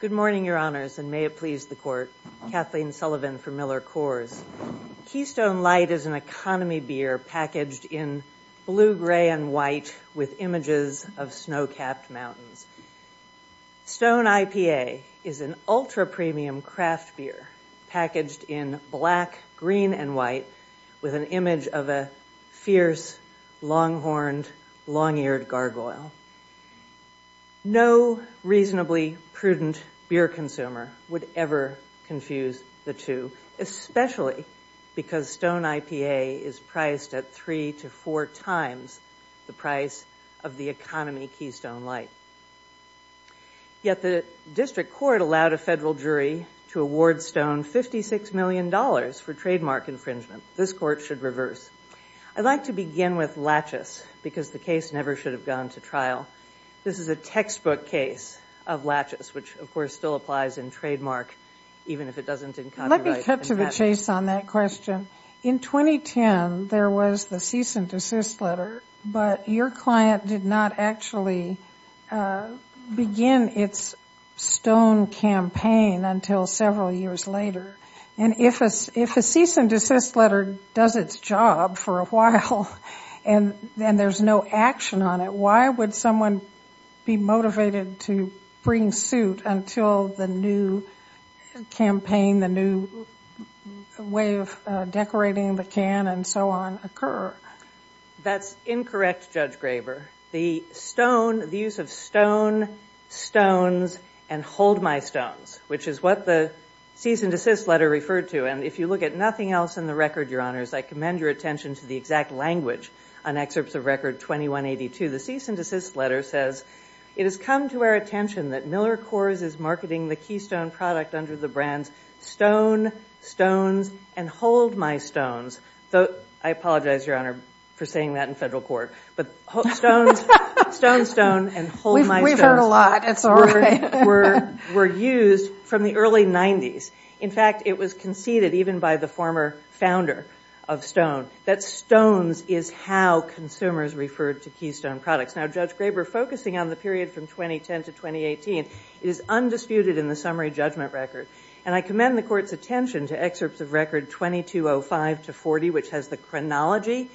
Good morning, your honors, and may it please the court. Kathleen Sullivan for Miller Coors. Keystone Light is an economy beer packaged in blue, gray, and white with images of snow-capped mountains. Stone IPA is an ultra-premium craft beer packaged in black, green, and white with an image of a fierce, long-horned, long-eared gargoyle. No reasonably prudent beer consumer would ever confuse the two, especially because Stone IPA is priced at three to four times the price of the economy Keystone Light. Yet the district court allowed a federal jury to award Stone $56 million for trademark infringement. This court should reverse. I'd like to begin with Latchis, because the case never should have gone to trial. This is a textbook case of Latchis, which, of course, still applies in trademark, even if it doesn't in copyright. Let me cut to the chase on that question. In 2010, there was the cease and desist letter, but your client did not actually begin its Stone campaign until several years later. And if a cease and desist letter does its job for a while, and there's no action on it, why would someone be motivated to bring suit until the new campaign, the new way of decorating the can and so on, occur? That's incorrect, Judge Graber. The use of stone, stones, and hold my stones, which is what the cease and desist letter referred to. And if you look at nothing else in the record, your honors, I commend your attention to the exact language on excerpts of record 2182. The cease and desist letter says, it has come to our attention that Miller Coors is marketing the Keystone product under the brands Stone, Stones, and Hold My Stones. I apologize, your honor, for saying that in federal court. But Stone, Stone, and Hold My Stones were used from the early 90s. In fact, it was conceded, even by the former founder of Stone, that Stones is how consumers referred to Keystone products. Now, Judge Graber, focusing on the period from 2010 to 2018, is undisputed in the summary judgment record. And I commend the court's attention to excerpts of record 2205 to 40, which has the chronology.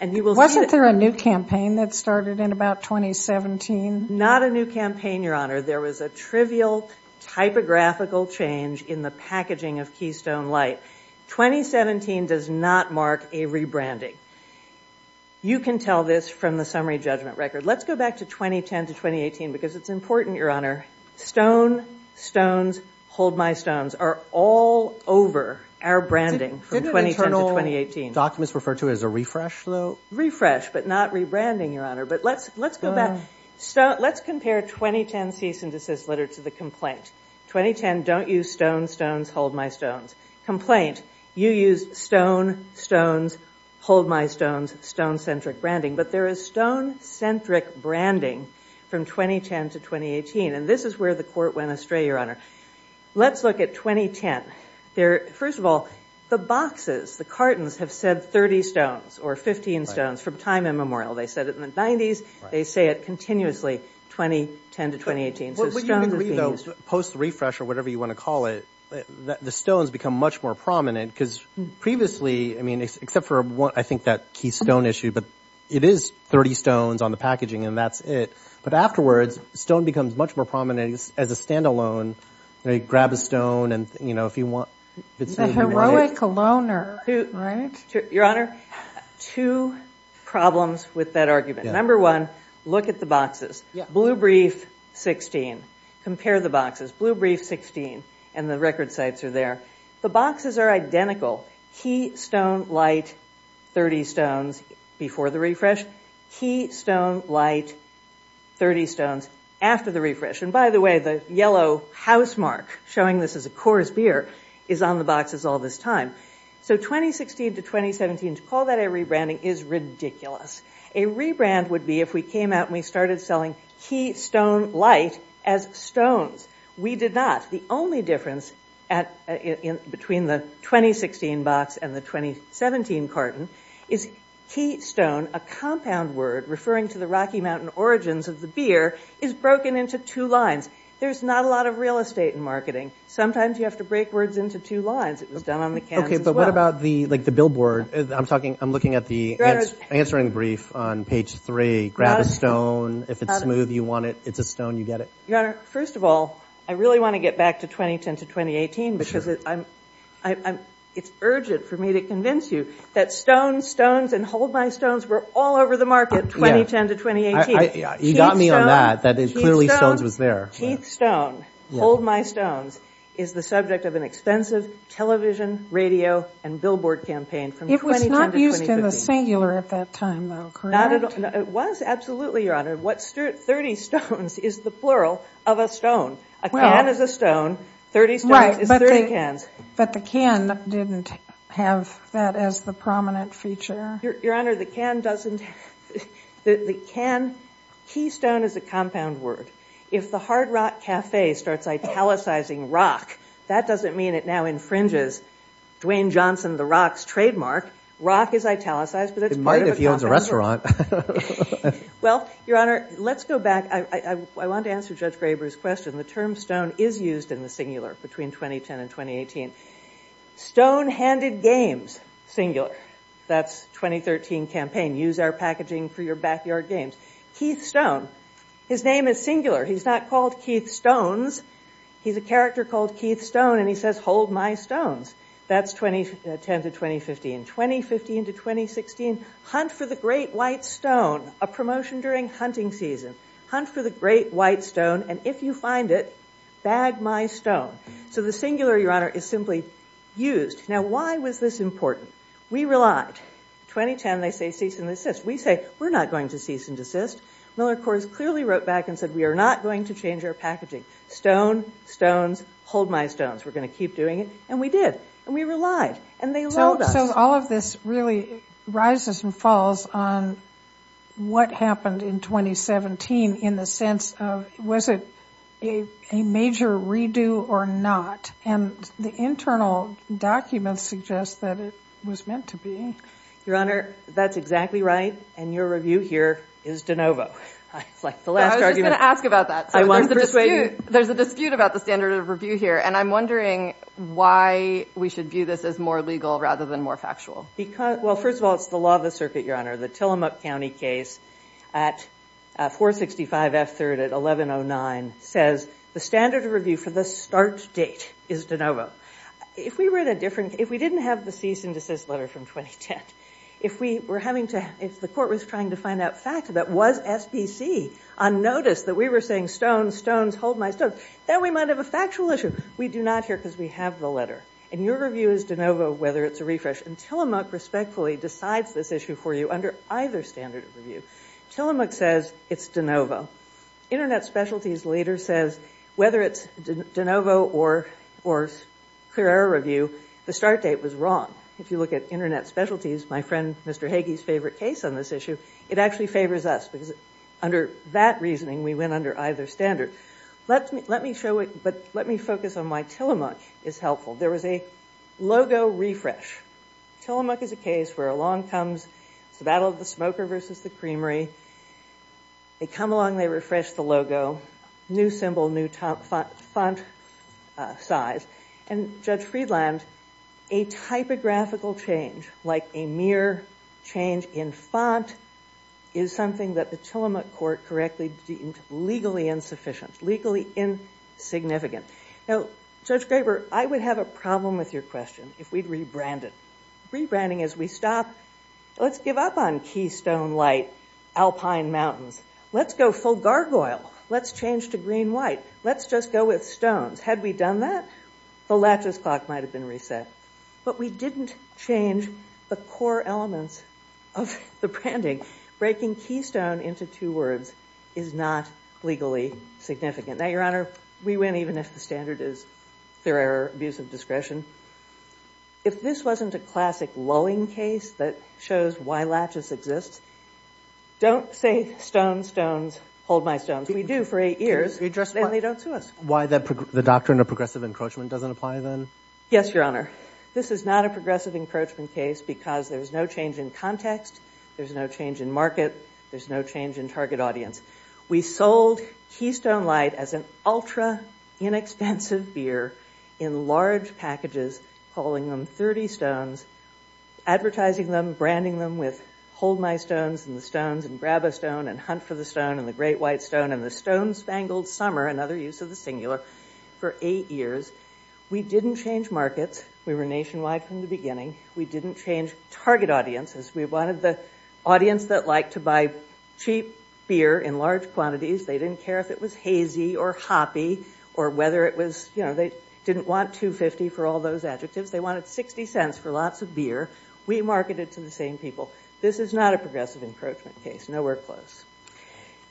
And you will see that- Wasn't there a new campaign that started in about 2017? Not a new campaign, your honor. There was a trivial typographical change in the packaging of Keystone Light. 2017 does not mark a rebranding. You can tell this from the summary judgment record. Let's go back to 2010 to 2018, because it's important, your honor. Stone, Stones, Hold My Stones are all over our branding from 2010 to 2018. Didn't internal documents refer to it as a refresh, though? Refresh, but not rebranding, your honor. But let's go back. Let's compare 2010 cease and desist letter to the complaint. 2010, don't use Stone, Stones, Hold My Stones. Complaint, you use Stone, Stones, Hold My Stones, stone-centric branding. But there is stone-centric branding from 2010 to 2018. And this is where the court went astray, your honor. Let's look at 2010. First of all, the boxes, the cartons, have said 30 stones or 15 stones from time immemorial. They said it in the 90s. They say it continuously 2010 to 2018, so stones have been used- What you can read, though, post refresh or whatever you want to call it, the stones become much more prominent, because previously, I mean, except for what I think that Keith Stone issue, but it is 30 stones on the packaging, and that's it. But afterwards, stone becomes much more prominent as a standalone. You grab a stone, and if you want, if it's- A heroic loner, right? Your honor, two problems with that argument. Number one, look at the boxes. Blue brief, 16. Compare the boxes. Blue brief, 16, and the record sites are there. The boxes are identical. Keith Stone, light, 30 stones before the refresh. Keith Stone, light, 30 stones after the refresh. And by the way, the yellow housemark showing this as a Coors beer is on the boxes all this time. So 2016 to 2017, to call that a rebranding is ridiculous. A key stone, light, as stones. We did not. The only difference between the 2016 box and the 2017 carton is Keith Stone, a compound word referring to the Rocky Mountain origins of the beer, is broken into two lines. There's not a lot of real estate in marketing. Sometimes you have to break words into two lines. It was done on the cans as well. Okay, but what about the billboard? I'm looking at the answering brief on page three. Grab a stone. If it's smooth, you want it. It's a stone, you get it. Your honor, first of all, I really want to get back to 2010 to 2018 because it's urgent for me to convince you that Stone, Stones, and Hold My Stones were all over the market 2010 to 2018. You got me on that. That is clearly Stones was there. Keith Stone, Hold My Stones is the subject of an expensive television, radio, and billboard campaign from 2010 to 2015. It was not used in the singular at that time though, correct? It was absolutely, your honor. What 30 stones is the plural of a stone. A can is a stone, 30 stones is 30 cans. But the can didn't have that as the prominent feature? Your honor, the can doesn't, the can, Keith Stone is a compound word. If the Hard Rock Cafe starts italicizing rock, that doesn't mean it now infringes Dwayne Johnson the Rock's trademark. It might if he owns a restaurant. Well, your honor, let's go back. I want to answer Judge Graber's question. The term stone is used in the singular between 2010 and 2018. Stonehanded games, singular. That's 2013 campaign. Use our packaging for your backyard games. Keith Stone, his name is singular. He's not called Keith Stones. He's a character called Keith Stone, and he says, hold my stones. That's 2010 to 2015. 2015 to 2016, hunt for the great white stone, a promotion during hunting season. Hunt for the great white stone, and if you find it, bag my stone. So the singular, your honor, is simply used. Now, why was this important? We relied. 2010, they say cease and desist. We say, we're not going to cease and desist. Miller, of course, clearly wrote back and said, we are not going to change our packaging. Stone, stones, hold my stones. We're going to keep doing it, and we did, and we relied, and they allowed us. So all of this really rises and falls on what happened in 2017 in the sense of was it a major redo or not, and the internal documents suggest that it was meant to be. Your honor, that's exactly right, and your review here is de novo. I was just going to ask about that. There's a standard of review here, and I'm wondering why we should view this as more legal rather than more factual. Well, first of all, it's the law of the circuit, your honor. The Tillamook County case at 465 F3rd at 1109 says the standard of review for the start date is de novo. If we didn't have the cease and desist letter from 2010, if the court was trying to find out fact, that was SPC on notice that we were saying, stones, stones, hold my stones, then we might have a factual issue. We do not here because we have the letter, and your review is de novo whether it's a refresh, and Tillamook respectfully decides this issue for you under either standard of review. Tillamook says it's de novo. Internet Specialties later says whether it's de novo or clear error review, the start date was wrong. If you look at Internet Specialties, my friend Mr. Hagee's favorite case on this issue, it actually favors us because under that reasoning we went under either standard. Let me show it, but let me focus on why Tillamook is helpful. There was a logo refresh. Tillamook is a case where along comes the battle of the smoker versus the creamery. They come along, they refresh the logo, new symbol, new font size, and Judge Friedland, a typographical change like a letter change in font is something that the Tillamook court correctly deemed legally insufficient, legally insignificant. Now, Judge Graber, I would have a problem with your question if we'd rebrand it. Rebranding as we stop, let's give up on keystone light, alpine mountains. Let's go full gargoyle. Let's change to green white. Let's just go with stones. Had we done that, the laches clock might have been reset, but we didn't change the core elements of the branding. Breaking keystone into two words is not legally significant. Now, Your Honor, we win even if the standard is fairer abuse of discretion. If this wasn't a classic lulling case that shows why laches exists, don't say stones, stones, hold my stones. We do for eight years and they don't sue us. Why the doctrine of progressive encroachment doesn't apply then? Yes, Your Honor. This is not a progressive encroachment case because there's no change in context, there's no change in market, there's no change in target audience. We sold keystone light as an ultra inexpensive beer in large packages, calling them 30 stones, advertising them, branding them with hold my stones and the stones and grab a stone and hunt for the stone and the great white stone and the stone spangled summer, another use of the singular, for eight years. We didn't change markets. We were nationwide from the beginning. We didn't change target audiences. We wanted the audience that liked to buy cheap beer in large quantities. They didn't care if it was hazy or hoppy or whether it was, you know, they didn't want $2.50 for all those adjectives. They wanted 60 cents for lots of beer. We marketed to the same people. This is not a progressive encroachment case. Nowhere close.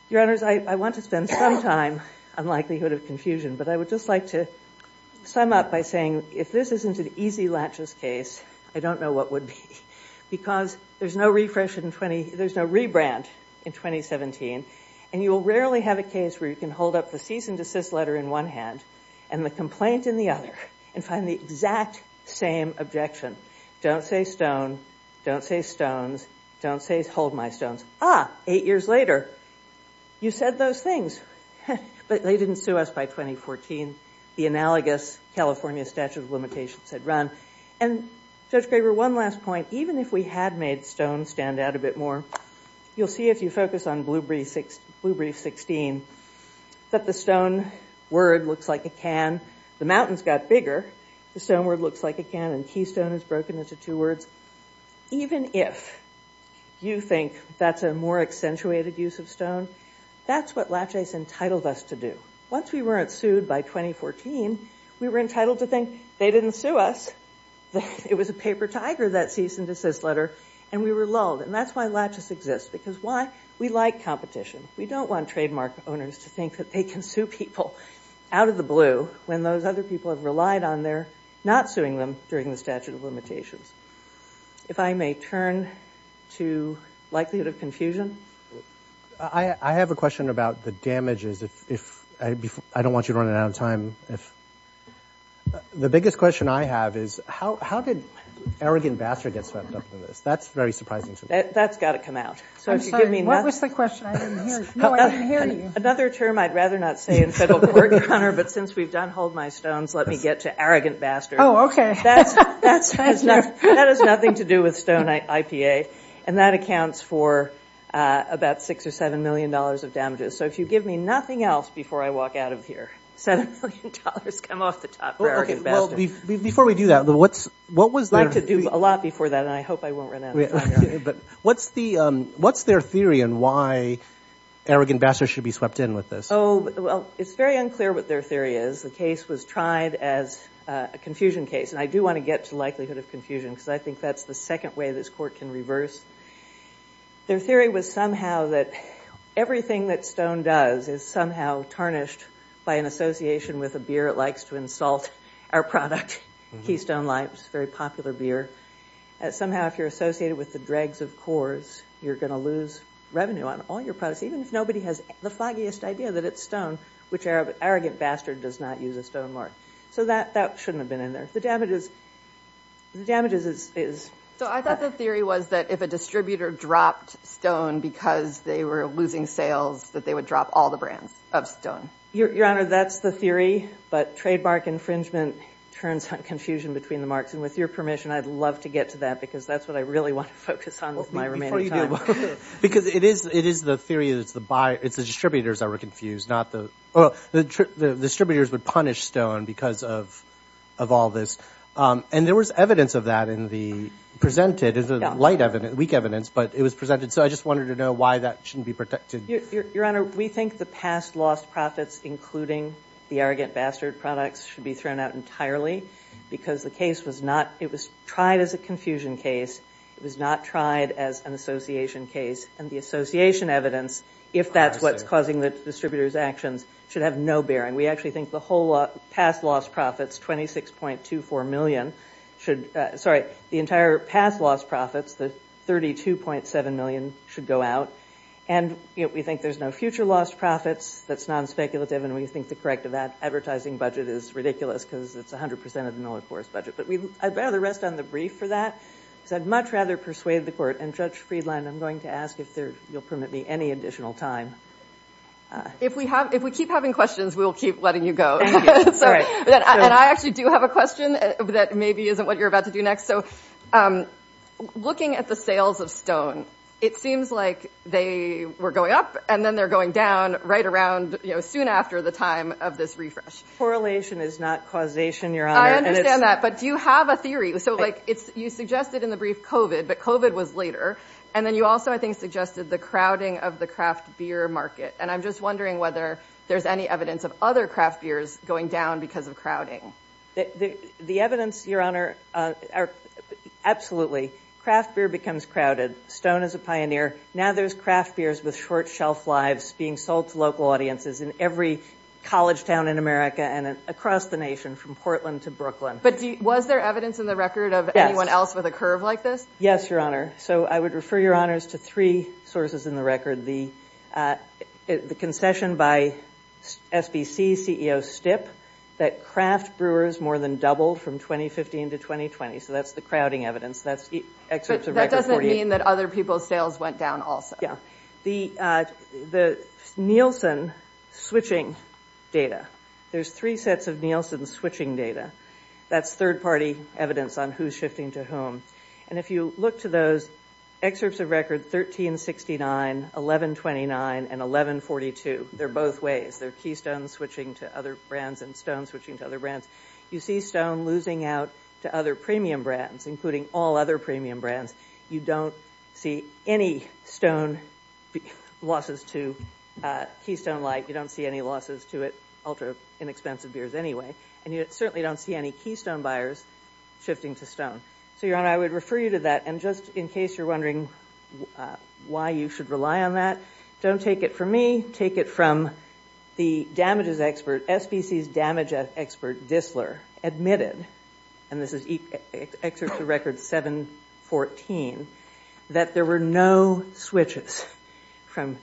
Your Honors, I want to spend some time on likelihood of confusion, but I would just like to sum up by saying if this isn't an easy latches case, I don't know what would be. Because there's no refresh in 20, there's no rebrand in 2017 and you will rarely have a case where you can hold up the cease and desist letter in one hand and the complaint in the other and find the exact same objection. Don't say stone. Don't say stones. Don't say hold my stones. Ah, eight years later, you said those things. But they didn't sue us by 2014. The analogous California statute of limitations had run. And Judge Graber, one last point. Even if we had made stone stand out a bit more, you'll see if you focus on Blue Brief 16 that the stone word looks like a can. The stone word looks like a can and keystone is broken into two words. Even if you think that's a more accentuated use of stone, that's what latches entitled us to do. Once we weren't sued by 2014, we were entitled to think they didn't sue us. It was a paper tiger that cease and desist letter. And we were lulled. And that's why latches exist. Because why? We like competition. We don't want trademark owners to think that they can sue people out of the blue when those other people have relied on their not suing them during the statute of limitations. If I may turn to likelihood of confusion. I have a question about the damages. I don't want you to run out of time. The biggest question I have is, how did arrogant bastard get swept up in this? That's very surprising to me. That's got to come out. I'm sorry. What was the question? I didn't hear. No, I didn't hear you. Another term I'd rather not say in federal court, Connor, but since we've done hold my stones, let me get to arrogant bastard. Oh, okay. That has nothing to do with Stone IPA. And that accounts for about $6 or $7 million of damages. So if you give me nothing else before I walk out of here, $7 million come off the top for arrogant bastard. Before we do that, what was their- I'd like to do a lot before that, and I hope I won't run out of time. But what's their theory on why arrogant bastard should be swept in with this? Well, it's very unclear what their theory is. The case was tried as a confusion case. And I do want to get to likelihood of confusion, because I think that's the second way this court can reverse. Their theory was somehow that everything that Stone does is somehow tarnished by an association with a beer. It likes to insult our product, Keystone Light, which is a very popular beer. Somehow, if you're associated with the dregs of Coors, you're going to lose revenue on all your products, even if nobody has the foggiest idea that it's Stone, which arrogant bastard does not use a Stone mark. So that shouldn't have been in there. The damages is- So I thought the theory was that if a distributor dropped Stone because they were losing sales, that they would drop all the brands of Stone. Your Honor, that's the theory. But trademark infringement turns on confusion between the marks. And with your permission, I'd love to get to that, because that's what I really want to focus on with my remaining time. Because it is the theory that it's the distributors that were confused, not the- Well, the distributors would punish Stone because of all this. And there was evidence of that in the presented. There's a light evidence, weak evidence, but it was presented. So I just wanted to know why that shouldn't be protected. Your Honor, we think the past lost profits, including the arrogant bastard products, should be thrown out entirely. Because the case was not- It was tried as a confusion case. It was not tried as an association case. And the association evidence, if that's what's causing the distributors' actions, should have no bearing. We actually think the whole past lost profits, 26.24 million, should- Sorry, the entire past lost profits, the 32.7 million, should go out. And we think there's no future lost profits. That's non-speculative. And we think the corrective advertising budget is ridiculous, because it's 100% of the Miller-Kors budget. But I'd rather rest on the brief for that. Because I'd much rather persuade the court. And Judge Friedland, I'm going to ask if you'll permit me any additional time. If we keep having questions, we'll keep letting you go. And I actually do have a question that maybe isn't what you're about to do next. So, looking at the sales of Stone, it seems like they were going up and then they're going down right around soon after the time of this refresh. Correlation is not causation, Your Honor. I understand that. But do you have a theory? So, like, you suggested in the brief COVID, but COVID was later. And then you also, I think, suggested the crowding of the craft beer market. And I'm just wondering whether there's any evidence of other craft beers going down because of crowding. The evidence, Your Honor, absolutely. Craft beer becomes crowded. Stone is a pioneer. Now there's craft beers with short shelf lives being sold to local audiences in every college town in America and across the nation from Portland to Brooklyn. But was there evidence in the record of anyone else with a curve like this? Yes, Your Honor. So, I would refer, Your Honors, to three sources in the record. The concession by SBC CEO Stipp that craft brewers more than doubled from 2015 to 2020. So, that's the crowding evidence. That's excerpts of record 48. But that doesn't mean that other people's sales went down also. Yeah. The Nielsen switching data. There's three sets of Nielsen switching data. That's third-party evidence on who's shifting to whom. And if you look to those excerpts of record 1369, 1129, and 1142, they're both ways. They're Keystone switching to other brands and Stone switching to other brands. You see Stone losing out to other premium brands, including all other premium brands. You don't see any Stone losses to Keystone Light. You don't see any losses to it, ultra-inexpensive beers anyway. And you certainly don't see any Keystone buyers shifting to Stone. So, Your Honor, I would refer you to that. And just in case you're wondering why you should rely on that, don't take it from me. Take it from the damages expert, SBC's damage expert, Dissler, admitted, and this is excerpts of record 714, that there were no switches from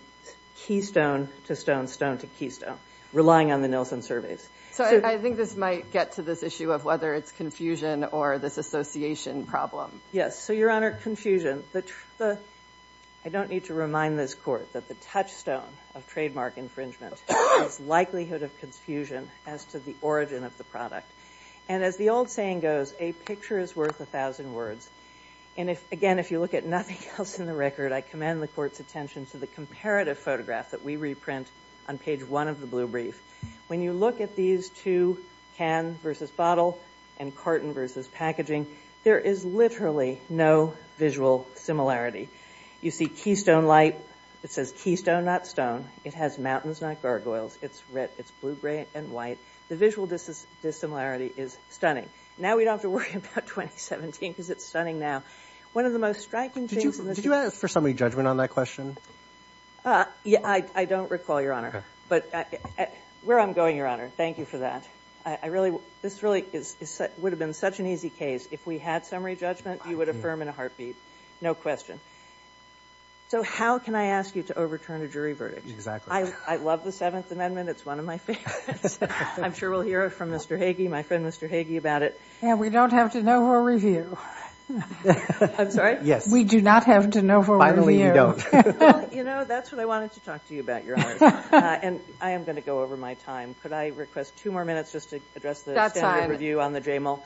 Keystone to Stone, Stone to Keystone, relying on the Nielsen surveys. So, I think this might get to this issue of whether it's confusion or this association problem. Yes. So, Your Honor, confusion, I don't need to remind this Court that the touchstone of trademark infringement is likelihood of confusion as to the origin of the product. And as the old saying goes, a picture is worth a thousand words. And again, if you look at nothing else in the record, I commend the Court's attention to the comparative photograph that we reprint on page one of the blue brief. When you look at these two, can versus bottle, and carton versus packaging, there is literally no visual similarity. You see Keystone Light, it says, Keystone, not Stone. It has mountains, not gargoyles. It's red, it's blue, gray, and white. The visual dissimilarity is stunning. Now, we don't have to worry about 2017 because it's stunning now. One of the most striking things in the- Did you ask for summary judgment on that question? Yeah, I don't recall, Your Honor. But, where I'm going, Your Honor, thank you for that. I really, this really would have been such an easy case. If we had summary judgment, you would affirm in a heartbeat. No question. So, how can I ask you to overturn a jury verdict? Exactly. I love the Seventh Amendment. It's one of my favorites. I'm sure we'll hear it from Mr. Hagee. My friend, Mr. Hagee, about it. Yeah, we don't have to know her review. I'm sorry? Yes. We do not have to know her review. Finally, you don't. You know, that's what I wanted to talk to you about, Your Honor. And, I am going to go over my time. Could I request two more minutes just to address the standard review on the JML?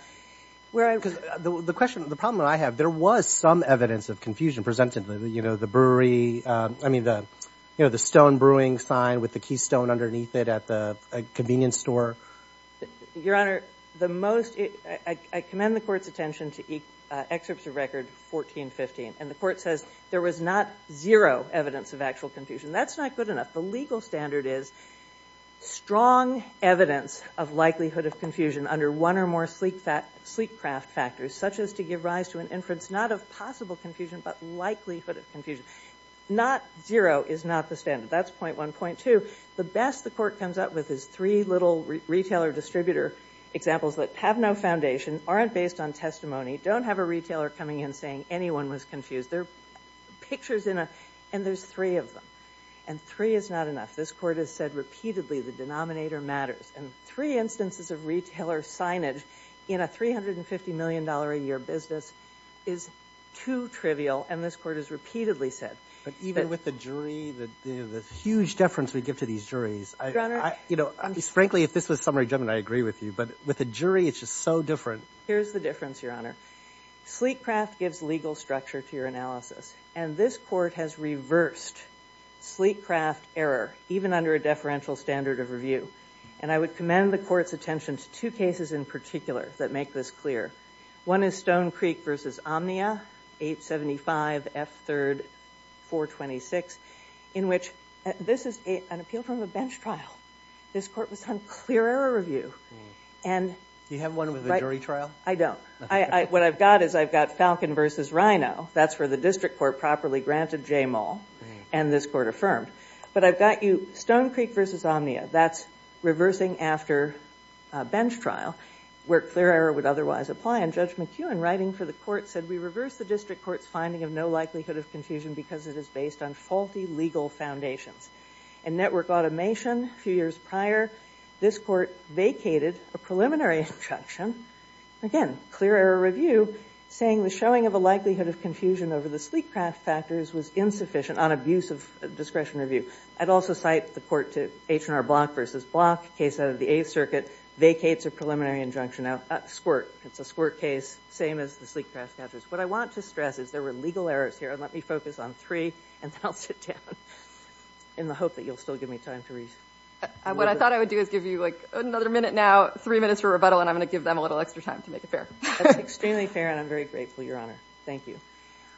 Where I, because the question, the problem that I have, there was some evidence of confusion presented, you know, the brewery. I mean, the, you know, the stone brewing sign with the Keystone underneath it at the convenience store. Your Honor, the most, I commend the court's attention to excerpts of record 1415. And, the court says there was not zero evidence of actual confusion. That's not good enough. The legal standard is strong evidence of likelihood of confusion under one or more sleep craft factors, such as to give rise to an inference, not of possible confusion, but likelihood of confusion. Not zero is not the standard. That's point one. Point two, the best the court comes up with is three little retailer distributor examples that have no foundation, aren't based on testimony, don't have a retailer coming in saying anyone was confused. They're pictures in a, and there's three of them. And, three is not enough. This court has said repeatedly the denominator matters. And, three instances of retailer signage in a $350 million a year business is too trivial, and this court has repeatedly said. But, even with the jury, the huge deference we give to these juries. Your Honor. You know, frankly, if this was summary judgment, I agree with you. But, with a jury, it's just so different. Here's the difference, Your Honor. Sleep craft gives legal structure to your analysis. And, this court has reversed sleep craft error, even under a deferential standard of review. And, I would commend the court's attention to two cases in particular that make this clear. One is Stone Creek versus Omnia, 875 F3rd 426. In which, this is an appeal from a bench trial. This court was on clear error review. You have one with a jury trial? I don't. What I've got is, I've got Falcon versus Rhino. That's where the district court properly granted J Moll. And, this court affirmed. But, I've got you, Stone Creek versus Omnia. That's reversing after a bench trial. Where clear error would otherwise apply. And, Judge McEwen, writing for the court, said, we reversed the district court's finding of no likelihood of confusion. Because, it is based on faulty legal foundations. And, network automation, a few years prior. This court vacated a preliminary injunction. Again, clear error review. Saying the showing of a likelihood of confusion over the sleep craft factors was insufficient on abuse of discretion review. I'd also cite the court to H&R Block versus Block. Case out of the Eighth Circuit. Vacates a preliminary injunction. Now, squirt. It's a squirt case. Same as the sleep craft factors. What I want to stress is, there were legal errors here. And, let me focus on three. And, then I'll sit down. In the hope that you'll still give me time to read. What I thought I would do is give you, like, another minute now. Three minutes for rebuttal. And, I'm going to give them a little extra time to make it fair. That's extremely fair. And, I'm very grateful, Your Honor. Thank you.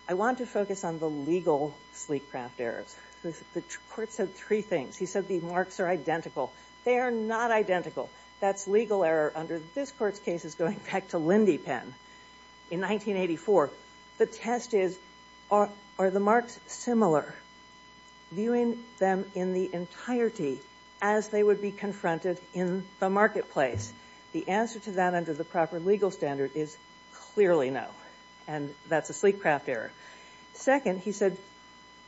I want to focus on the legal sleep craft errors. The court said three things. He said the marks are identical. They are not identical. That's legal error under this court's case. It's going back to Lindy Penn in 1984. The test is, are the marks similar? Viewing them in the entirety as they would be confronted in the marketplace. The answer to that under the proper legal standard is clearly no. And, that's a sleep craft error. Second, he said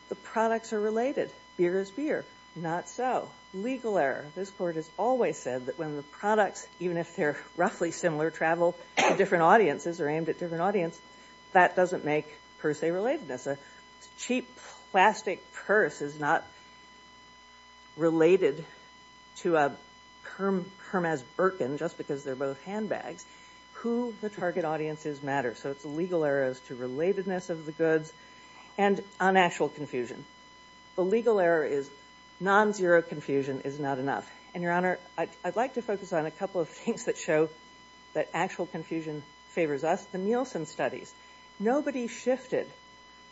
the products are related. Beer is beer. Not so. Legal error. This court has always said that when the products, even if they're roughly similar, travel to different audiences or aimed at different audiences, that doesn't make per se relatedness. A cheap plastic purse is not related to a Hermes Birkin just because they're both handbags. Who the target audience is matters. So, it's legal errors to relatedness of the goods and unactual confusion. The legal error is non-zero confusion is not enough. And, Your Honor, I'd like to focus on a couple of things that show that actual confusion favors us, the Nielsen studies. Nobody shifted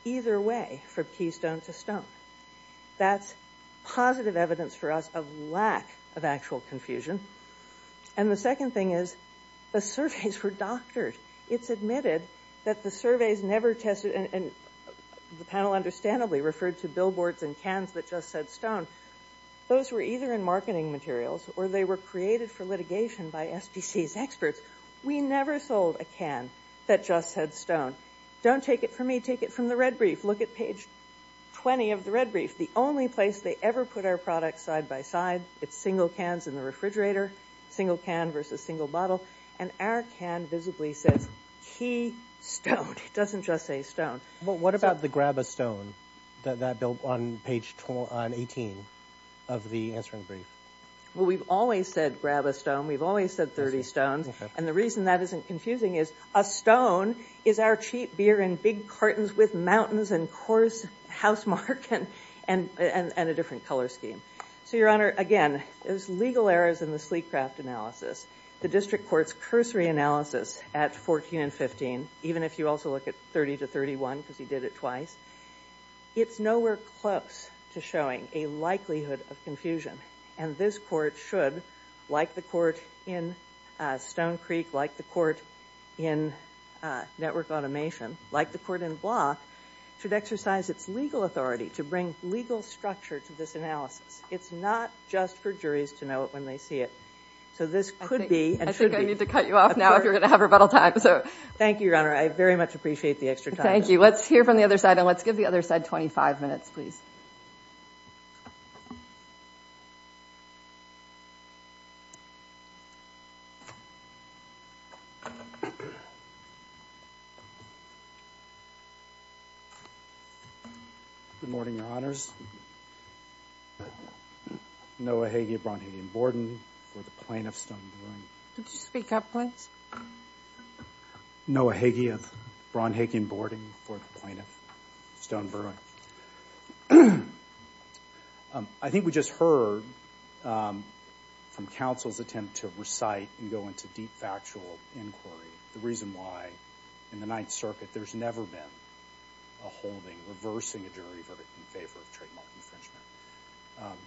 either way from keystone to stone. That's positive evidence for us of lack of actual confusion. And, the second thing is the surveys were doctored. It's admitted that the surveys never tested, and the panel understandably referred to billboards and cans that just said stone. Those were either in marketing materials or they were created for litigation by SPC's experts. We never sold a can that just said stone. Don't take it from me. Take it from the red brief. Look at page 20 of the red brief. The only place they ever put our products side by side, it's single cans in the refrigerator, single can versus single bottle. And, our can visibly says keystone. It doesn't just say stone. What about the grab a stone, that bill on page 18 of the answering brief? Well, we've always said grab a stone. We've always said 30 stones. And, the reason that isn't confusing is a stone is our cheap beer in big cartons with mountains and coarse housemark and a different color scheme. So, Your Honor, again, there's legal errors in the sleek craft analysis. The district court's cursory analysis at 14 and 15, even if you also look at 30 to 31 because he did it twice, it's nowhere close to showing a likelihood of confusion. And, this court should, like the court in Stone Creek, like the court in network automation, like the court in Block, should exercise its legal authority to bring legal structure to this analysis. It's not just for juries to know it when they see it. So, this could be and should be. I think I need to cut you off now if you're going to have rebuttal time. So. Thank you, Your Honor. I very much appreciate the extra time. Let's hear from the other side. And, let's give the other side 25 minutes, please. Good morning, Your Honors. Noah Hagee of Braunhagen-Borden for the plaintiff's stone. Could you speak up, please? Noah Hagee of Braunhagen-Borden for the plaintiff's stone verdict. I think we just heard from counsel's attempt to recite and go into deep factual inquiry, the reason why in the Ninth Circuit there's never been a holding, reversing a jury verdict in favor of trademark infringement.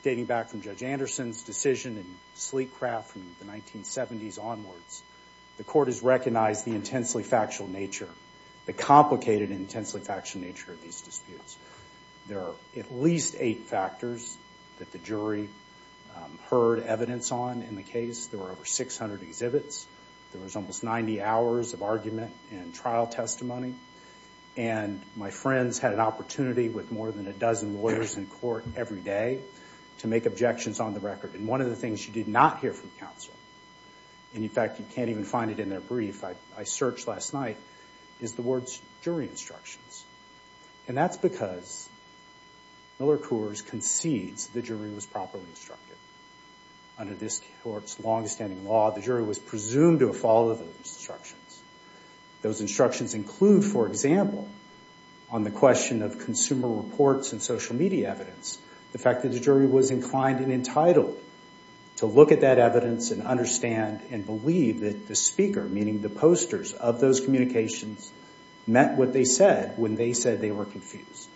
Dating back from Judge Anderson's decision in Sleekcraft from the 1970s onwards, the court has recognized the intensely factual nature, the complicated and intensely factual nature of these disputes. There are at least eight factors that the jury heard evidence on in the case. There were over 600 exhibits. There was almost 90 hours of argument and trial testimony. And, my friends had an opportunity with more than a dozen lawyers in court every day to make objections on the record. And, one of the things you did not hear from counsel, and, in fact, you can't even find it in their brief, I searched last night, is the words jury instructions. And, that's because Miller Coors concedes the jury was properly instructed. Under this court's longstanding law, the jury was presumed to have followed those instructions. Those instructions include, for example, on the question of consumer reports and social media evidence, the fact that the jury was inclined and entitled to look at that evidence and understand and believe that the speaker, meaning the posters of those communications, met what they said when they said they were confused.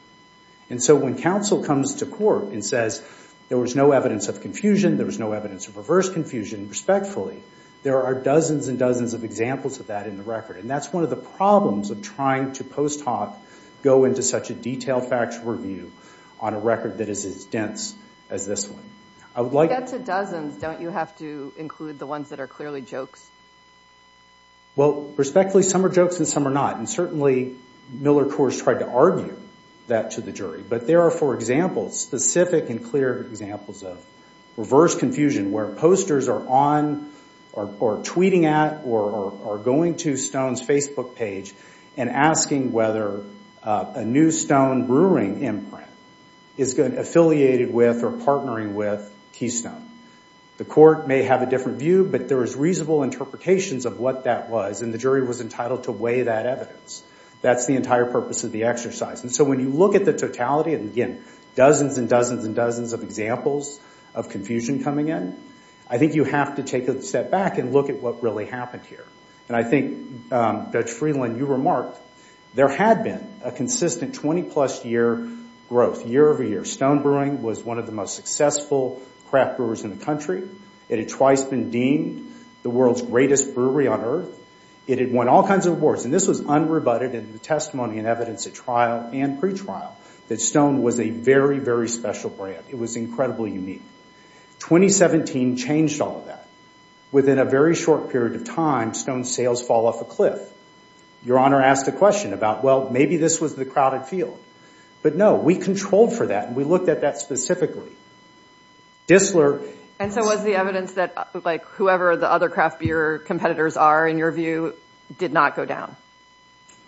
And, so, when counsel comes to court and says there was no evidence of confusion, there was no evidence of reverse confusion, respectfully, there are dozens and dozens of examples of that in the record. And, that's one of the problems of trying to post hoc go into such a detailed factual review on a record that is as dense as this one. I would like. To get to dozens, don't you have to include the ones that are clearly jokes? Well, respectfully, some are jokes and some are not. And, certainly, Miller Coors tried to argue that to the jury. But, there are, for example, specific and clear examples of reverse confusion where posters are on or tweeting at or going to Stone's Facebook page and asking whether a new Stone brewing imprint is affiliated with or partnering with Keystone. The court may have a different view, but there is reasonable interpretations of what that was. And, the jury was entitled to weigh that evidence. That's the entire purpose of the exercise. And, so, when you look at the totality and, again, dozens and dozens and dozens of examples of confusion coming in, I think you have to take a step back and look at what really happened here. And, I think, Judge Freeland, you remarked, there had been a consistent 20 plus year growth, year over year. Stone Brewing was one of the most successful craft brewers in the country. It had twice been deemed the world's greatest brewery on earth. It had won all kinds of awards. And, this was unrebutted in the testimony and evidence at trial and pretrial that Stone was a very, very special brand. It was incredibly unique. 2017 changed all of that. Within a very short period of time, Stone's sales fall off a cliff. Your Honor asked a question about, well, maybe this was the crowded field. But, no, we controlled for that and we looked at that specifically. And, so, was the evidence that, like, whoever the other craft beer competitors are, in your view, did not go down?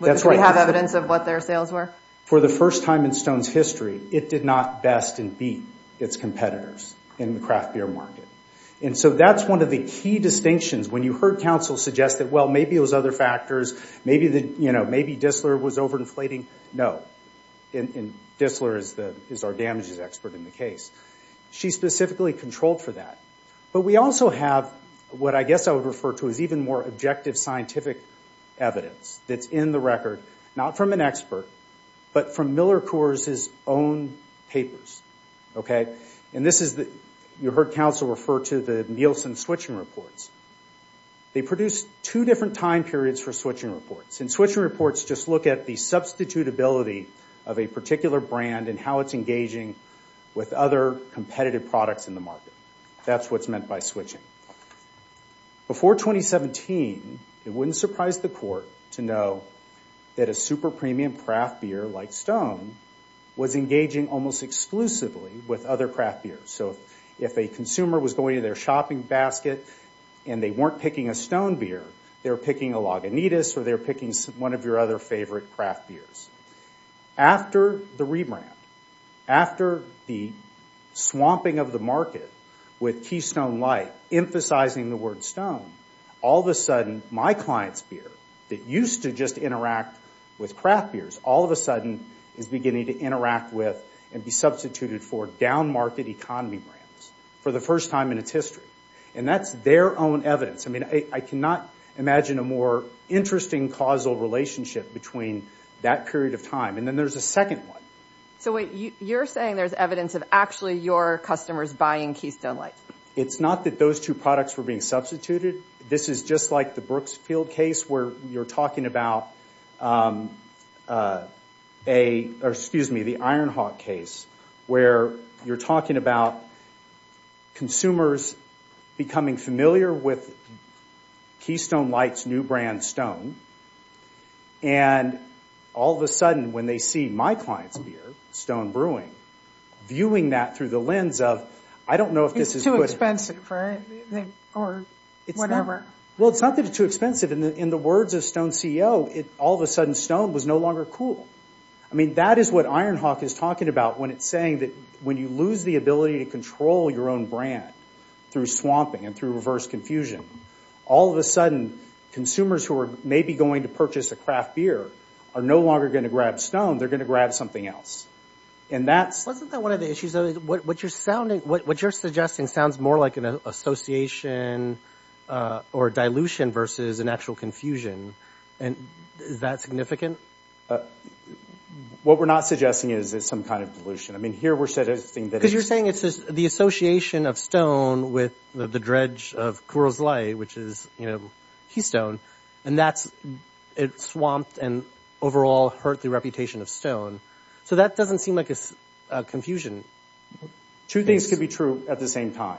That's right. Because we have evidence of what their sales were? For the first time in Stone's history, it did not best and beat its competitors in the craft beer market. And, so, that's one of the key distinctions. When you heard counsel suggest that, well, maybe it was other factors. Maybe, you know, maybe Dissler was over inflating. No. And, Dissler is our damages expert in the case. She specifically controlled for that. But, we also have what I guess I would refer to as even more objective scientific evidence that's in the record, not from an expert, but from Miller Coors' own papers. And, this is, you heard counsel refer to the Nielsen switching reports. They produced two different time periods for switching reports. In switching reports, just look at the substitutability of a particular brand and how it's engaging with other competitive products in the market. That's what's meant by switching. Before 2017, it wouldn't surprise the court to know that a super premium craft beer like Stone was engaging almost exclusively with other craft beers. So, if a consumer was going to their shopping basket and they weren't picking a Stone beer, they were picking a Lagunitas or they were picking one of your other favorite craft beers. After the rebrand, after the swamping of the market with Keystone Light emphasizing the word Stone, all of a sudden, my client's beer that used to just interact with craft beers, all of a sudden is beginning to interact with and be substituted for down market economy brands for the first time in its history. And, that's their own evidence. I mean, I cannot imagine a more interesting causal relationship between that period of time. And, then there's a second one. So, you're saying there's evidence of actually your customers buying Keystone Light? It's not that those two products were being substituted. This is just like the Brooksfield case where you're talking about a, or excuse me, the Ironhawk case where you're talking about consumers becoming familiar with Keystone Light's new brand, Stone. And, all of a sudden, when they see my client's beer, Stone Brewing, viewing that through the lens of, I don't know if this is good. It's too expensive, right? Or, whatever. Well, it's not that it's too expensive. In the words of Stone's CEO, all of a sudden, Stone was no longer cool. I mean, that is what Ironhawk is talking about when it's saying that when you lose the ability to control your own brand through swamping and through reverse confusion, all of a sudden, consumers who are maybe going to purchase a craft beer are no longer going to grab Stone. They're going to grab something else. And, that's- Wasn't that one of the issues? What you're suggesting sounds more like an association or dilution versus an actual confusion. And, is that significant? What we're not suggesting is some kind of dilution. I mean, here, we're suggesting that it's- Because you're saying it's the association of Stone with the dredge of Kuros Light, which is, you know, Keystone. And, that's swamped and, overall, hurt the reputation of Stone. So, that doesn't seem like a confusion. Two things could be true at the same time.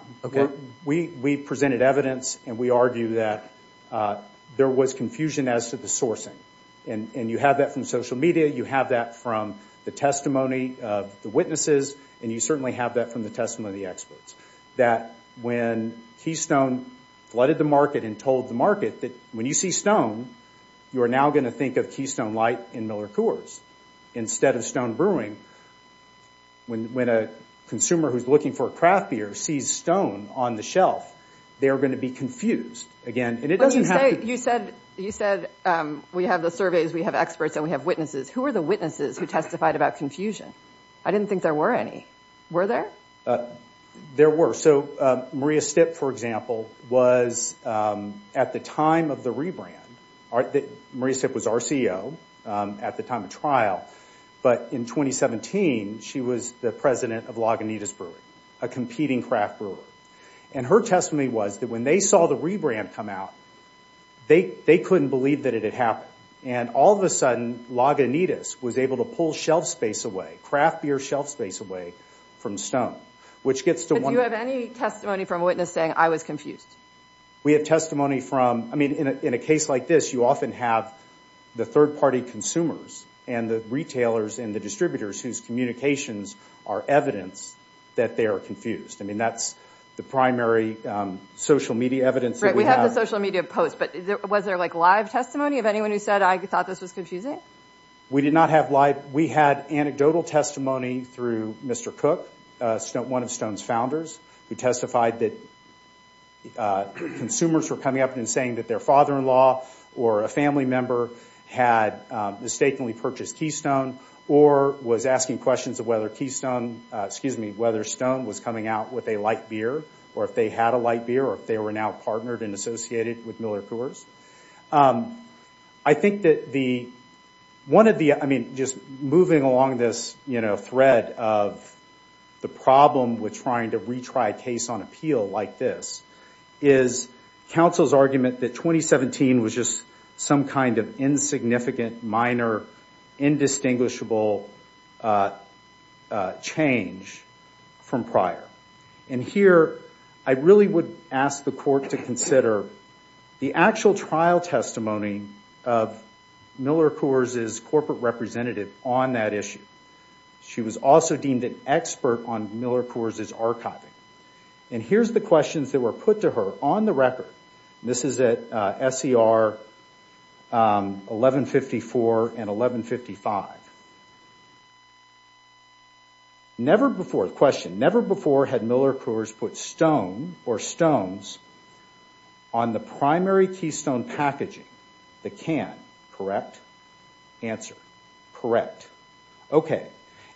We presented evidence, and we argue that there was confusion as to the sourcing. And, you have that from social media. You have that from the testimony of the witnesses. And, you certainly have that from the testimony of the experts. That when Keystone flooded the market and told the market that when you see Stone, you are now going to think of Keystone Light and Miller Kuros instead of Stone Brewing. When a consumer who's looking for a craft beer sees Stone on the shelf, they are going to be confused. Again, and it doesn't have to- You said we have the surveys, we have experts, and we have witnesses. Who are the witnesses who testified about confusion? I didn't think there were any. Were there? There were. So, Maria Stipp, for example, was, at the time of the rebrand, Maria Stipp was our CEO at the time of trial. But, in 2017, she was the president of Lagunitas Brewery, a competing craft brewery. And, her testimony was that when they saw the rebrand come out, they couldn't believe that it had happened. And, all of a sudden, Lagunitas was able to pull shelf space away, craft beer shelf space away from Stone. Which gets to one- Do you have any testimony from a witness saying, I was confused? We have testimony from, I mean, in a case like this, you often have the third party consumers and the retailers and the distributors whose communications are evidence that they are confused. I mean, that's the primary social media evidence that we have. Right, we have the social media posts. But, was there like live testimony of anyone who said, I thought this was confusing? We did not have live. We had anecdotal testimony through Mr. Cook, one of Stone's founders, who testified that consumers were coming up and saying that their father-in-law or a family member had mistakenly purchased Keystone or was asking questions of whether Keystone, excuse me, whether Stone was coming out with a light beer, or if they had a light beer, or if they were now partnered and associated with Miller Coors. I think that the, one of the, I mean, just moving along this, you know, thread of the problem with trying to retry a case on appeal like this, is counsel's argument that 2017 was just some kind of insignificant, minor, indistinguishable change from prior. And here, I really would ask the court to consider the actual trial testimony of Miller Coors' corporate representative on that issue. She was also deemed an expert on Miller Coors' archiving. And here's the questions that were put to her on the record. This is at SER 1154 and 1155. Never before, question, never before had Miller Coors put Stone or Stones on the primary Keystone packaging, the can, correct? Answer, correct. Okay.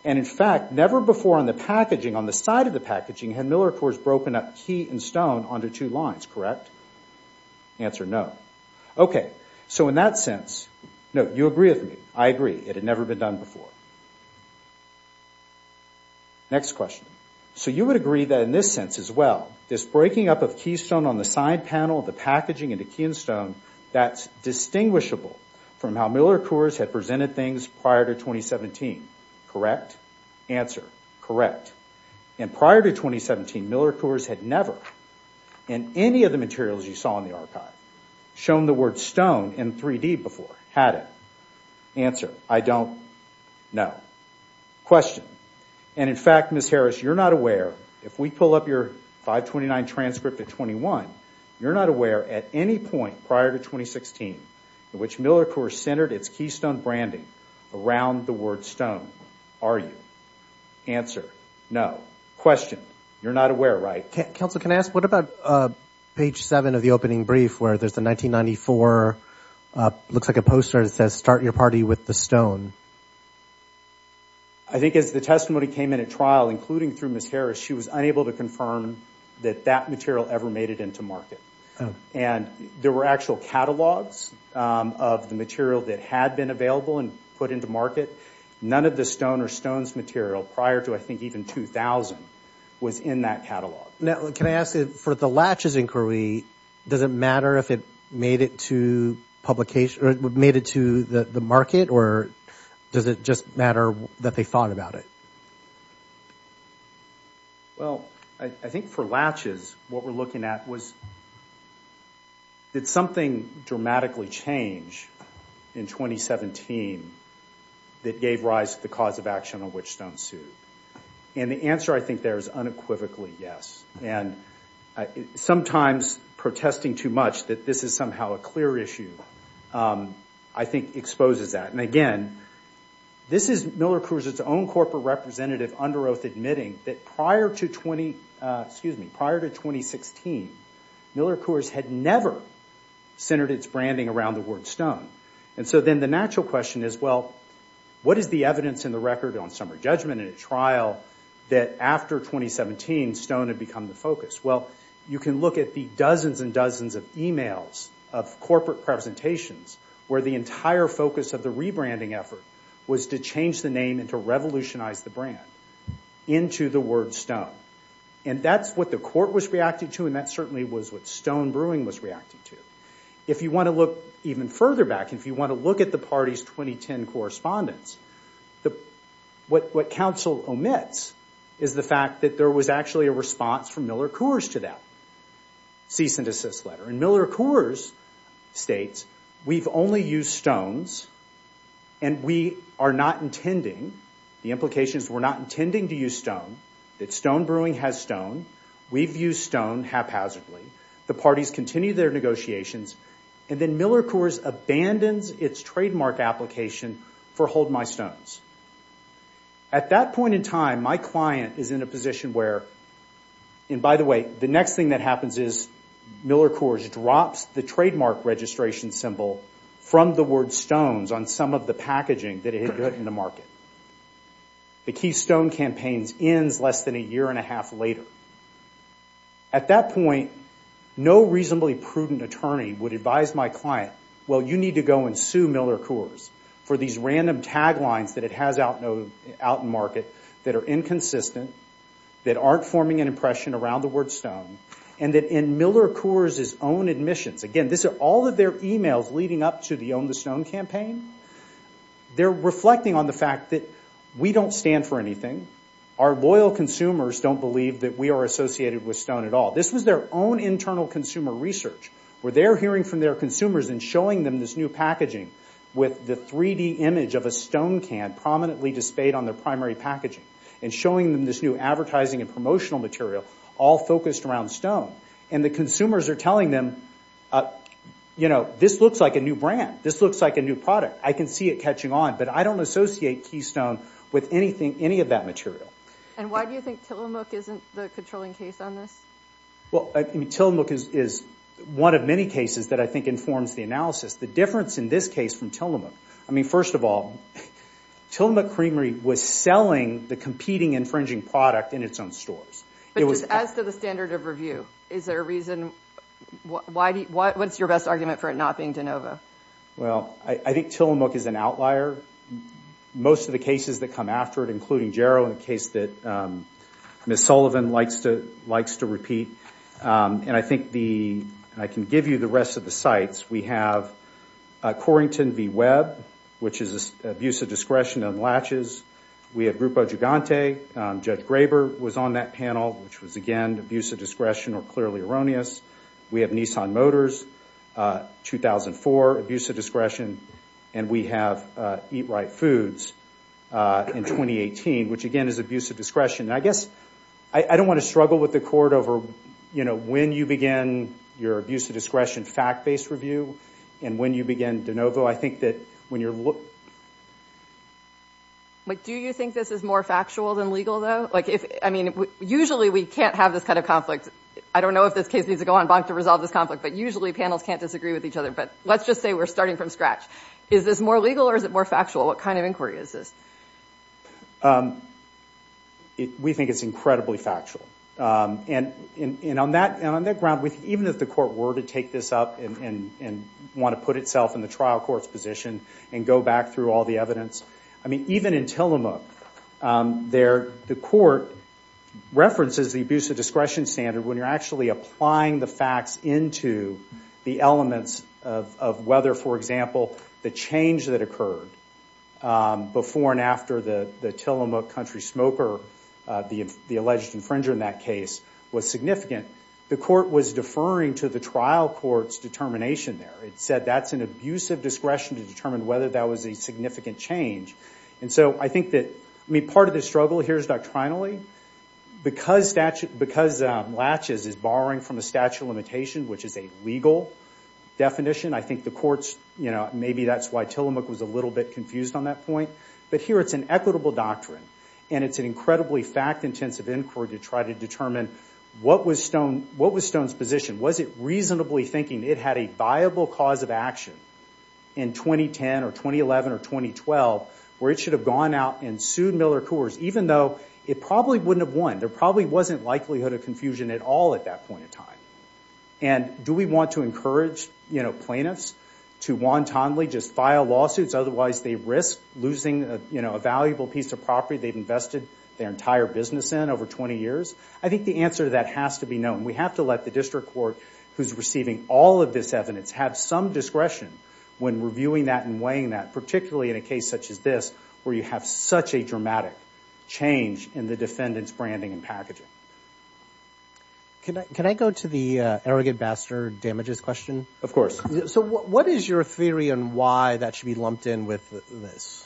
And in fact, never before on the packaging, on the side of the packaging, had Miller Coors broken up Key and Stone onto two lines, correct? Answer, no. Okay, so in that sense, no, you agree with me, I agree, it had never been done before. Next question. So you would agree that in this sense as well, this breaking up of Keystone on the side panel of the packaging into Key and Stone, that's distinguishable from how Miller Coors had presented things prior to 2017, correct? Answer, correct. And prior to 2017, Miller Coors had never, in any of the materials you saw in the archive, shown the word Stone in 3D before, had it? Answer, I don't know. Question. And in fact, Ms. Harris, you're not aware, if we pull up your 529 transcript at 21, you're not aware at any point prior to 2016 in which Miller Coors centered its Keystone branding around the word Stone. Are you? Answer, no. Question. You're not aware, right? Counsel, can I ask, what about page 7 of the opening brief where there's the 1994, looks like a poster that says, start your party with the Stone? I think as the testimony came in at trial, including through Ms. Harris, she was unable to confirm that that material ever made it into market. And there were actual catalogs of the material that had been available and put into market. None of the Stone or Stone's material prior to, I think, even 2000 was in that catalog. Now, can I ask, for the Latches inquiry, does it matter if it made it to the market or does it just matter that they thought about it? Well, I think for Latches, what we're looking at was, did something dramatically change in 2017 that gave rise to the cause of action on which Stone sued? And the answer I think there is unequivocally yes. And sometimes protesting too much that this is somehow a clear issue, I think, exposes that. And again, this is Miller Coors' own corporate representative under oath admitting that prior to 2016, Miller Coors had never centered its branding around the word Stone. And so then the natural question is, well, what is the evidence in the record on Summer Judgment in a trial that after 2017, Stone had become the focus? Well, you can look at the dozens and dozens of emails of corporate presentations where the entire focus of the rebranding effort was to change the name and to revolutionize the brand into the word Stone. And that's what the court was reacting to, and that certainly was what Stone Brewing was reacting to. If you want to look even further back, if you want to look at the party's 2010 correspondence, what counsel omits is the fact that there was actually a response from Miller Coors to that cease and desist letter. And Miller Coors states, we've only used Stones, and we are not intending, the implication is we're not intending to use Stone, that Stone Brewing has Stone, we've used Stone haphazardly. The parties continue their negotiations, and then Miller Coors abandons its trademark application for Hold My Stones. At that point in time, my client is in a position where, and by the way, the next thing that happens is Miller Coors drops the trademark registration symbol from the word Stones on some of the packaging that it had put in the market. The Keystone Campaign ends less than a year and a half later. At that point, no reasonably prudent attorney would advise my client, well, you need to go and sue Miller Coors for these random taglines that it has out in market that are inconsistent, that aren't forming an impression around the word Stone, and that in Miller Coors' own admissions, again, this is all of their emails leading up to the Own the Stone Campaign, they're reflecting on the fact that we don't stand for anything. Our loyal consumers don't believe that we are associated with Stone at all. This was their own internal consumer research, where they're hearing from their consumers and showing them this new packaging with the 3D image of a stone can prominently displayed on their primary packaging, and showing them this new advertising and promotional material all focused around Stone. And the consumers are telling them, you know, this looks like a new brand. This looks like a new product. I can see it catching on, but I don't associate Keystone with anything, any of that material. And why do you think Tillamook isn't the controlling case on this? Well, Tillamook is one of many cases that I think informs the analysis. The difference in this case from Tillamook, I mean, first of all, Tillamook Creamery was selling the competing infringing product in its own stores. But just as to the standard of review, is there a reason? What's your best argument for it not being DeNova? Well, I think Tillamook is an outlier. Most of the cases that come after it, including Jarrow and the case that Ms. Sullivan likes to repeat, and I think the—I can give you the rest of the sites. We have Corrington v. Webb, which is abuse of discretion and latches. We have Grupo Gigante. Judge Graber was on that panel, which was, again, abuse of discretion or clearly erroneous. We have Nissan Motors, 2004, abuse of discretion. And we have Eat Right Foods in 2018, which, again, is abuse of discretion. And I guess I don't want to struggle with the court over, you know, when you begin your abuse of discretion fact-based review and when you begin DeNova. I think that when you're— But do you think this is more factual than legal, though? Like, I mean, usually we can't have this kind of conflict. I don't know if this case needs to go on bonk to resolve this conflict, but usually panels can't disagree with each other. But let's just say we're starting from scratch. Is this more legal or is it more factual? What kind of inquiry is this? We think it's incredibly factual. And on that ground, even if the court were to take this up and want to put itself in the trial court's position and go back through all the evidence, I mean, even in Tillamook, the court references the abuse of discretion standard when you're actually applying the facts into the elements of whether, for example, the change that occurred before and after the Tillamook country smoker, the alleged infringer in that case, was significant. The court was deferring to the trial court's determination there. It said that's an abuse of discretion to determine whether that was a significant change. And so I think that—I mean, part of the struggle here is doctrinally. Because Latches is borrowing from the statute of limitations, which is a legal definition, I think the courts—maybe that's why Tillamook was a little bit confused on that point. But here it's an equitable doctrine. And it's an incredibly fact-intensive inquiry to try to determine what was Stone's position. Was it reasonably thinking it had a viable cause of action in 2010 or 2011 or 2012 where it should have gone out and sued Miller Coors, even though it probably wouldn't have won? There probably wasn't likelihood of confusion at all at that point in time. And do we want to encourage plaintiffs to wantonly just file lawsuits, otherwise they risk losing a valuable piece of property they've invested their entire business in over 20 years? I think the answer to that has to be no. And we have to let the district court, who's receiving all of this evidence, have some discretion when reviewing that and weighing that, particularly in a case such as this where you have such a dramatic change in the defendant's branding and packaging. Can I go to the arrogant bastard damages question? Of course. So what is your theory on why that should be lumped in with this?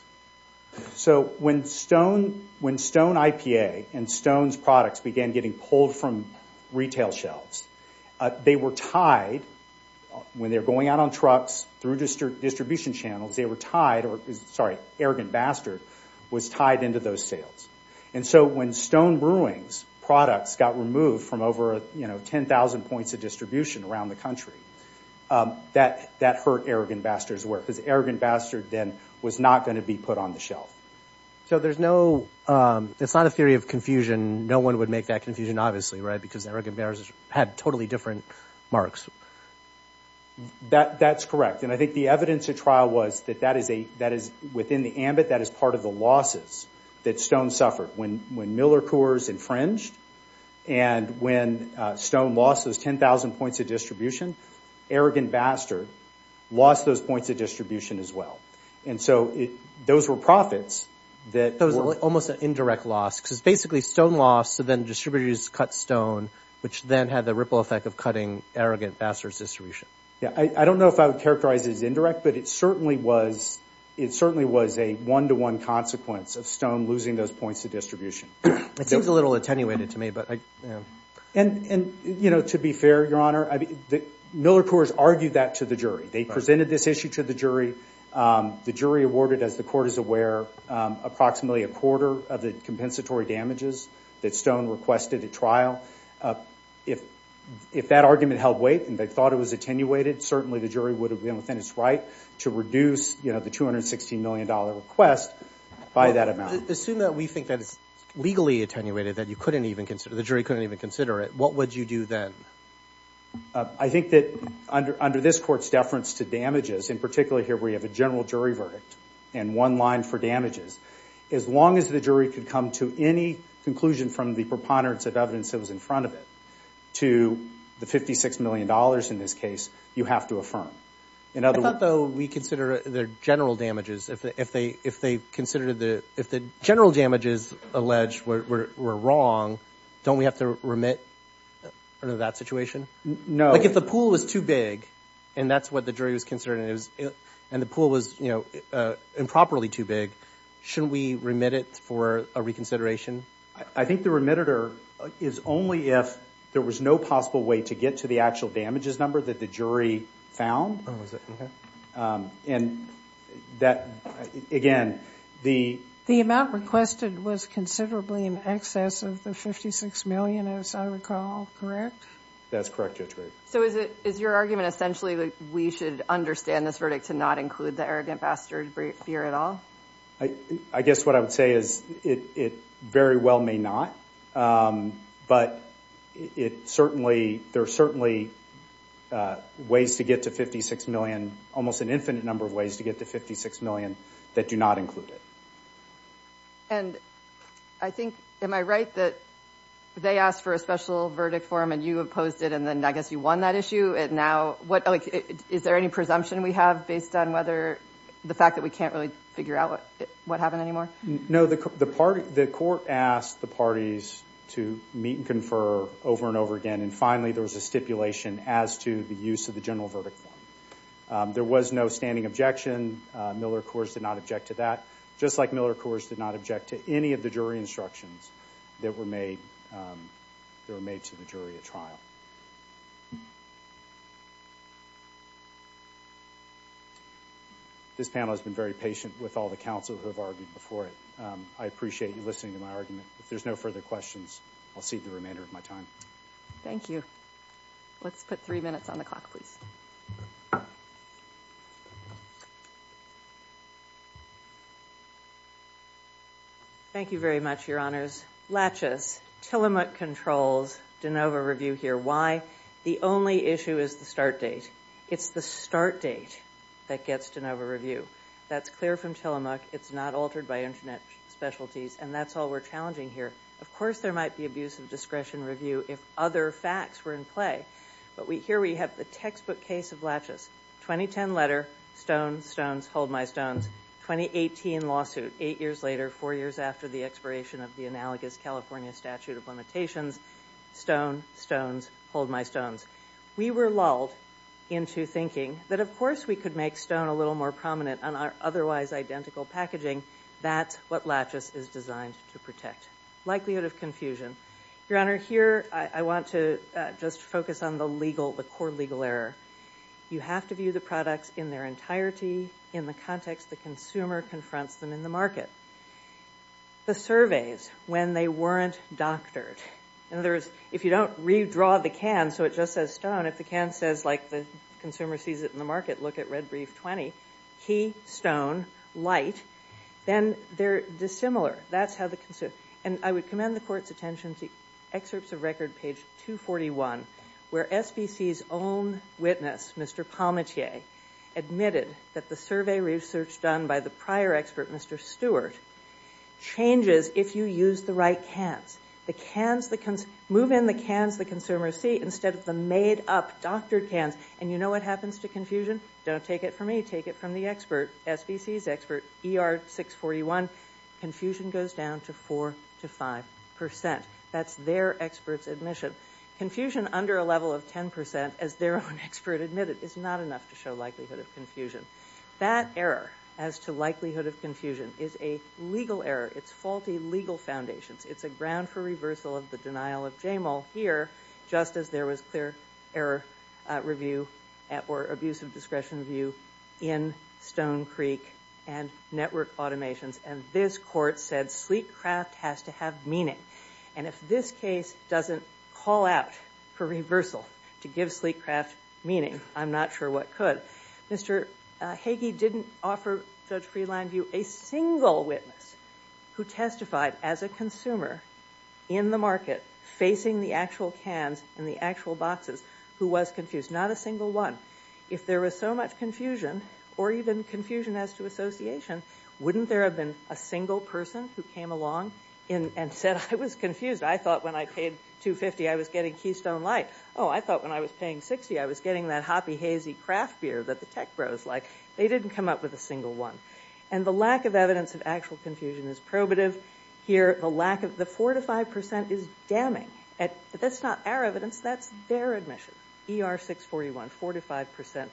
So when Stone IPA and Stone's products began getting pulled from retail shelves, they were tied—when they were going out on trucks through distribution channels, they were tied—sorry, arrogant bastard was tied into those sales. And so when Stone Brewing's products got removed from over 10,000 points of distribution around the country, that hurt arrogant bastard's worth, because arrogant bastard then was not going to be put on the shelf. So there's no—it's not a theory of confusion. No one would make that confusion, obviously, right? Because arrogant bastard had totally different marks. That's correct. And I think the evidence at trial was that that is within the ambit, that is part of the losses that Stone suffered. When Miller Coors infringed and when Stone lost those 10,000 points of distribution, arrogant bastard lost those points of distribution as well. And so those were profits that— That was almost an indirect loss, because basically Stone lost, so then distributors cut Stone, which then had the ripple effect of cutting arrogant bastard's distribution. Yeah, I don't know if I would characterize it as indirect, but it certainly was a one-to-one consequence of Stone losing those points of distribution. It seems a little attenuated to me, but— And, you know, to be fair, Your Honor, Miller Coors argued that to the jury. They presented this issue to the jury. The jury awarded, as the court is aware, approximately a quarter of the compensatory damages that Stone requested at trial. If that argument held weight and they thought it was attenuated, certainly the jury would have been within its right to reduce, you know, the $216 million request by that amount. Assume that we think that it's legally attenuated, that you couldn't even consider, the jury couldn't even consider it, what would you do then? I think that under this Court's deference to damages, in particular here where you have a general jury verdict and one line for damages, as long as the jury could come to any conclusion from the preponderance of evidence that was in front of it to the $56 million in this case, you have to affirm. In other words— I thought, though, we consider their general damages. If they considered the—if the general damages alleged were wrong, don't we have to remit under that situation? No. Like, if the pool was too big, and that's what the jury was considering, and the pool was, you know, improperly too big, shouldn't we remit it for a reconsideration? I think the remitter is only if there was no possible way to get to the actual damages number that the jury found. Oh, is it? Okay. And that—again, the— The amount requested was considerably in excess of the $56 million, as I recall, correct? That's correct, Judge Graber. So is it—is your argument essentially that we should understand this verdict to not include the arrogant bastard fear at all? I guess what I would say is it very well may not, but it certainly—there are certainly ways to get to $56 million, almost an infinite number of ways to get to $56 million that do not include it. And I think—am I right that they asked for a special verdict for him, and you opposed it, and then I guess you won that issue, and now— Is there any presumption we have based on whether—the fact that we can't really figure out what happened anymore? No, the court asked the parties to meet and confer over and over again, and finally there was a stipulation as to the use of the general verdict form. There was no standing objection. Miller, of course, did not object to that, just like Miller, of course, did not object to any of the jury instructions that were made to the jury at trial. This panel has been very patient with all the counsel who have argued before it. I appreciate you listening to my argument. If there's no further questions, I'll cede the remainder of my time. Thank you. Let's put three minutes on the clock, please. Thank you very much, Your Honors. Laches, Tillamook controls DeNova review here. Why? The only issue is the start date. It's the start date that gets DeNova review. That's clear from Tillamook. It's not altered by Internet specialties, and that's all we're challenging here. Of course there might be abuse of discretion review if other facts were in play, but here we have the textbook case of Laches. 2010 letter, stone, stones, hold my stones. 2018 lawsuit, eight years later, four years after the expiration of the analogous California statute of limitations, stone, stones, hold my stones. We were lulled into thinking that, of course, we could make stone a little more prominent on our otherwise identical packaging. That's what Laches is designed to protect. Likelihood of confusion. Your Honor, here I want to just focus on the core legal error. You have to view the products in their entirety in the context the consumer confronts them in the market. The surveys, when they weren't doctored. In other words, if you don't redraw the can so it just says stone, if the can says, like, the consumer sees it in the market, look at red brief 20, key, stone, light, then they're dissimilar. That's how the consumer. And I would commend the Court's attention to excerpts of record page 241, where SVC's own witness, Mr. Palmettiere, admitted that the survey research done by the prior expert, Mr. Stewart, changes if you use the right cans. Move in the cans the consumers see instead of the made-up doctored cans. And you know what happens to confusion? Don't take it from me. Take it from the expert, SVC's expert, ER 641. Confusion goes down to 4% to 5%. That's their expert's admission. Confusion under a level of 10%, as their own expert admitted, is not enough to show likelihood of confusion. That error as to likelihood of confusion is a legal error. It's faulty legal foundations. It's a ground for reversal of the denial of JAMAL here, just as there was clear error review or abuse of discretion review in Stone Creek and network automations. And this court said sleek craft has to have meaning. And if this case doesn't call out for reversal to give sleek craft meaning, I'm not sure what could. Mr. Hagee didn't offer Judge Freelandview a single witness who testified as a consumer in the market, facing the actual cans and the actual boxes, who was confused. Not a single one. If there was so much confusion, or even confusion as to association, wouldn't there have been a single person who came along and said, I was confused. I thought when I paid $2.50, I was getting Keystone Light. Oh, I thought when I was paying $60, I was getting that Hoppy Hazy craft beer that the tech bros like. They didn't come up with a single one. And the lack of evidence of actual confusion is probative here. The 4% to 5% is damning. That's not our evidence. That's their admission. ER641, 4% to 5%.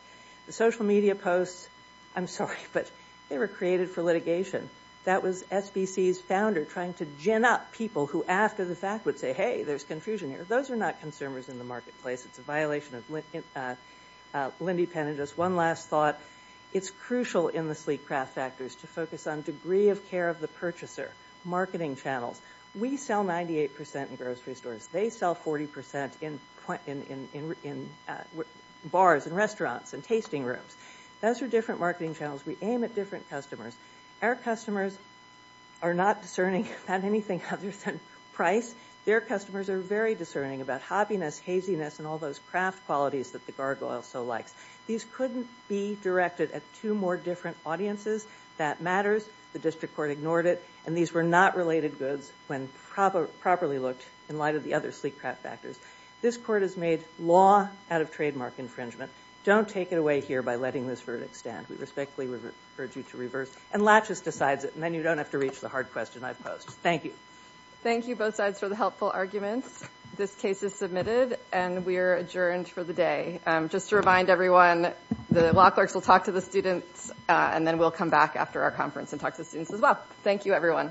The social media posts, I'm sorry, but they were created for litigation. That was SBC's founder trying to gin up people who, after the fact, would say, hey, there's confusion here. Those are not consumers in the marketplace. It's a violation of Lindy Pennington's one last thought. It's crucial in the sleek craft factors to focus on degree of care of the purchaser, marketing channels. We sell 98% in grocery stores. They sell 40% in bars and restaurants and tasting rooms. Those are different marketing channels. We aim at different customers. Our customers are not discerning about anything other than price. Their customers are very discerning about hobbiness, haziness, and all those craft qualities that the gargoyle so likes. These couldn't be directed at two more different audiences. That matters. The district court ignored it. And these were not related goods when properly looked in light of the other sleek craft factors. This court has made law out of trademark infringement. Don't take it away here by letting this verdict stand. We respectfully urge you to reverse. And Latchis decides it. And then you don't have to reach the hard question I've posed. Thank you. Thank you, both sides, for the helpful arguments. This case is submitted, and we are adjourned for the day. Just to remind everyone, the law clerks will talk to the students, and then we'll come back after our conference and talk to the students as well. Thank you, everyone.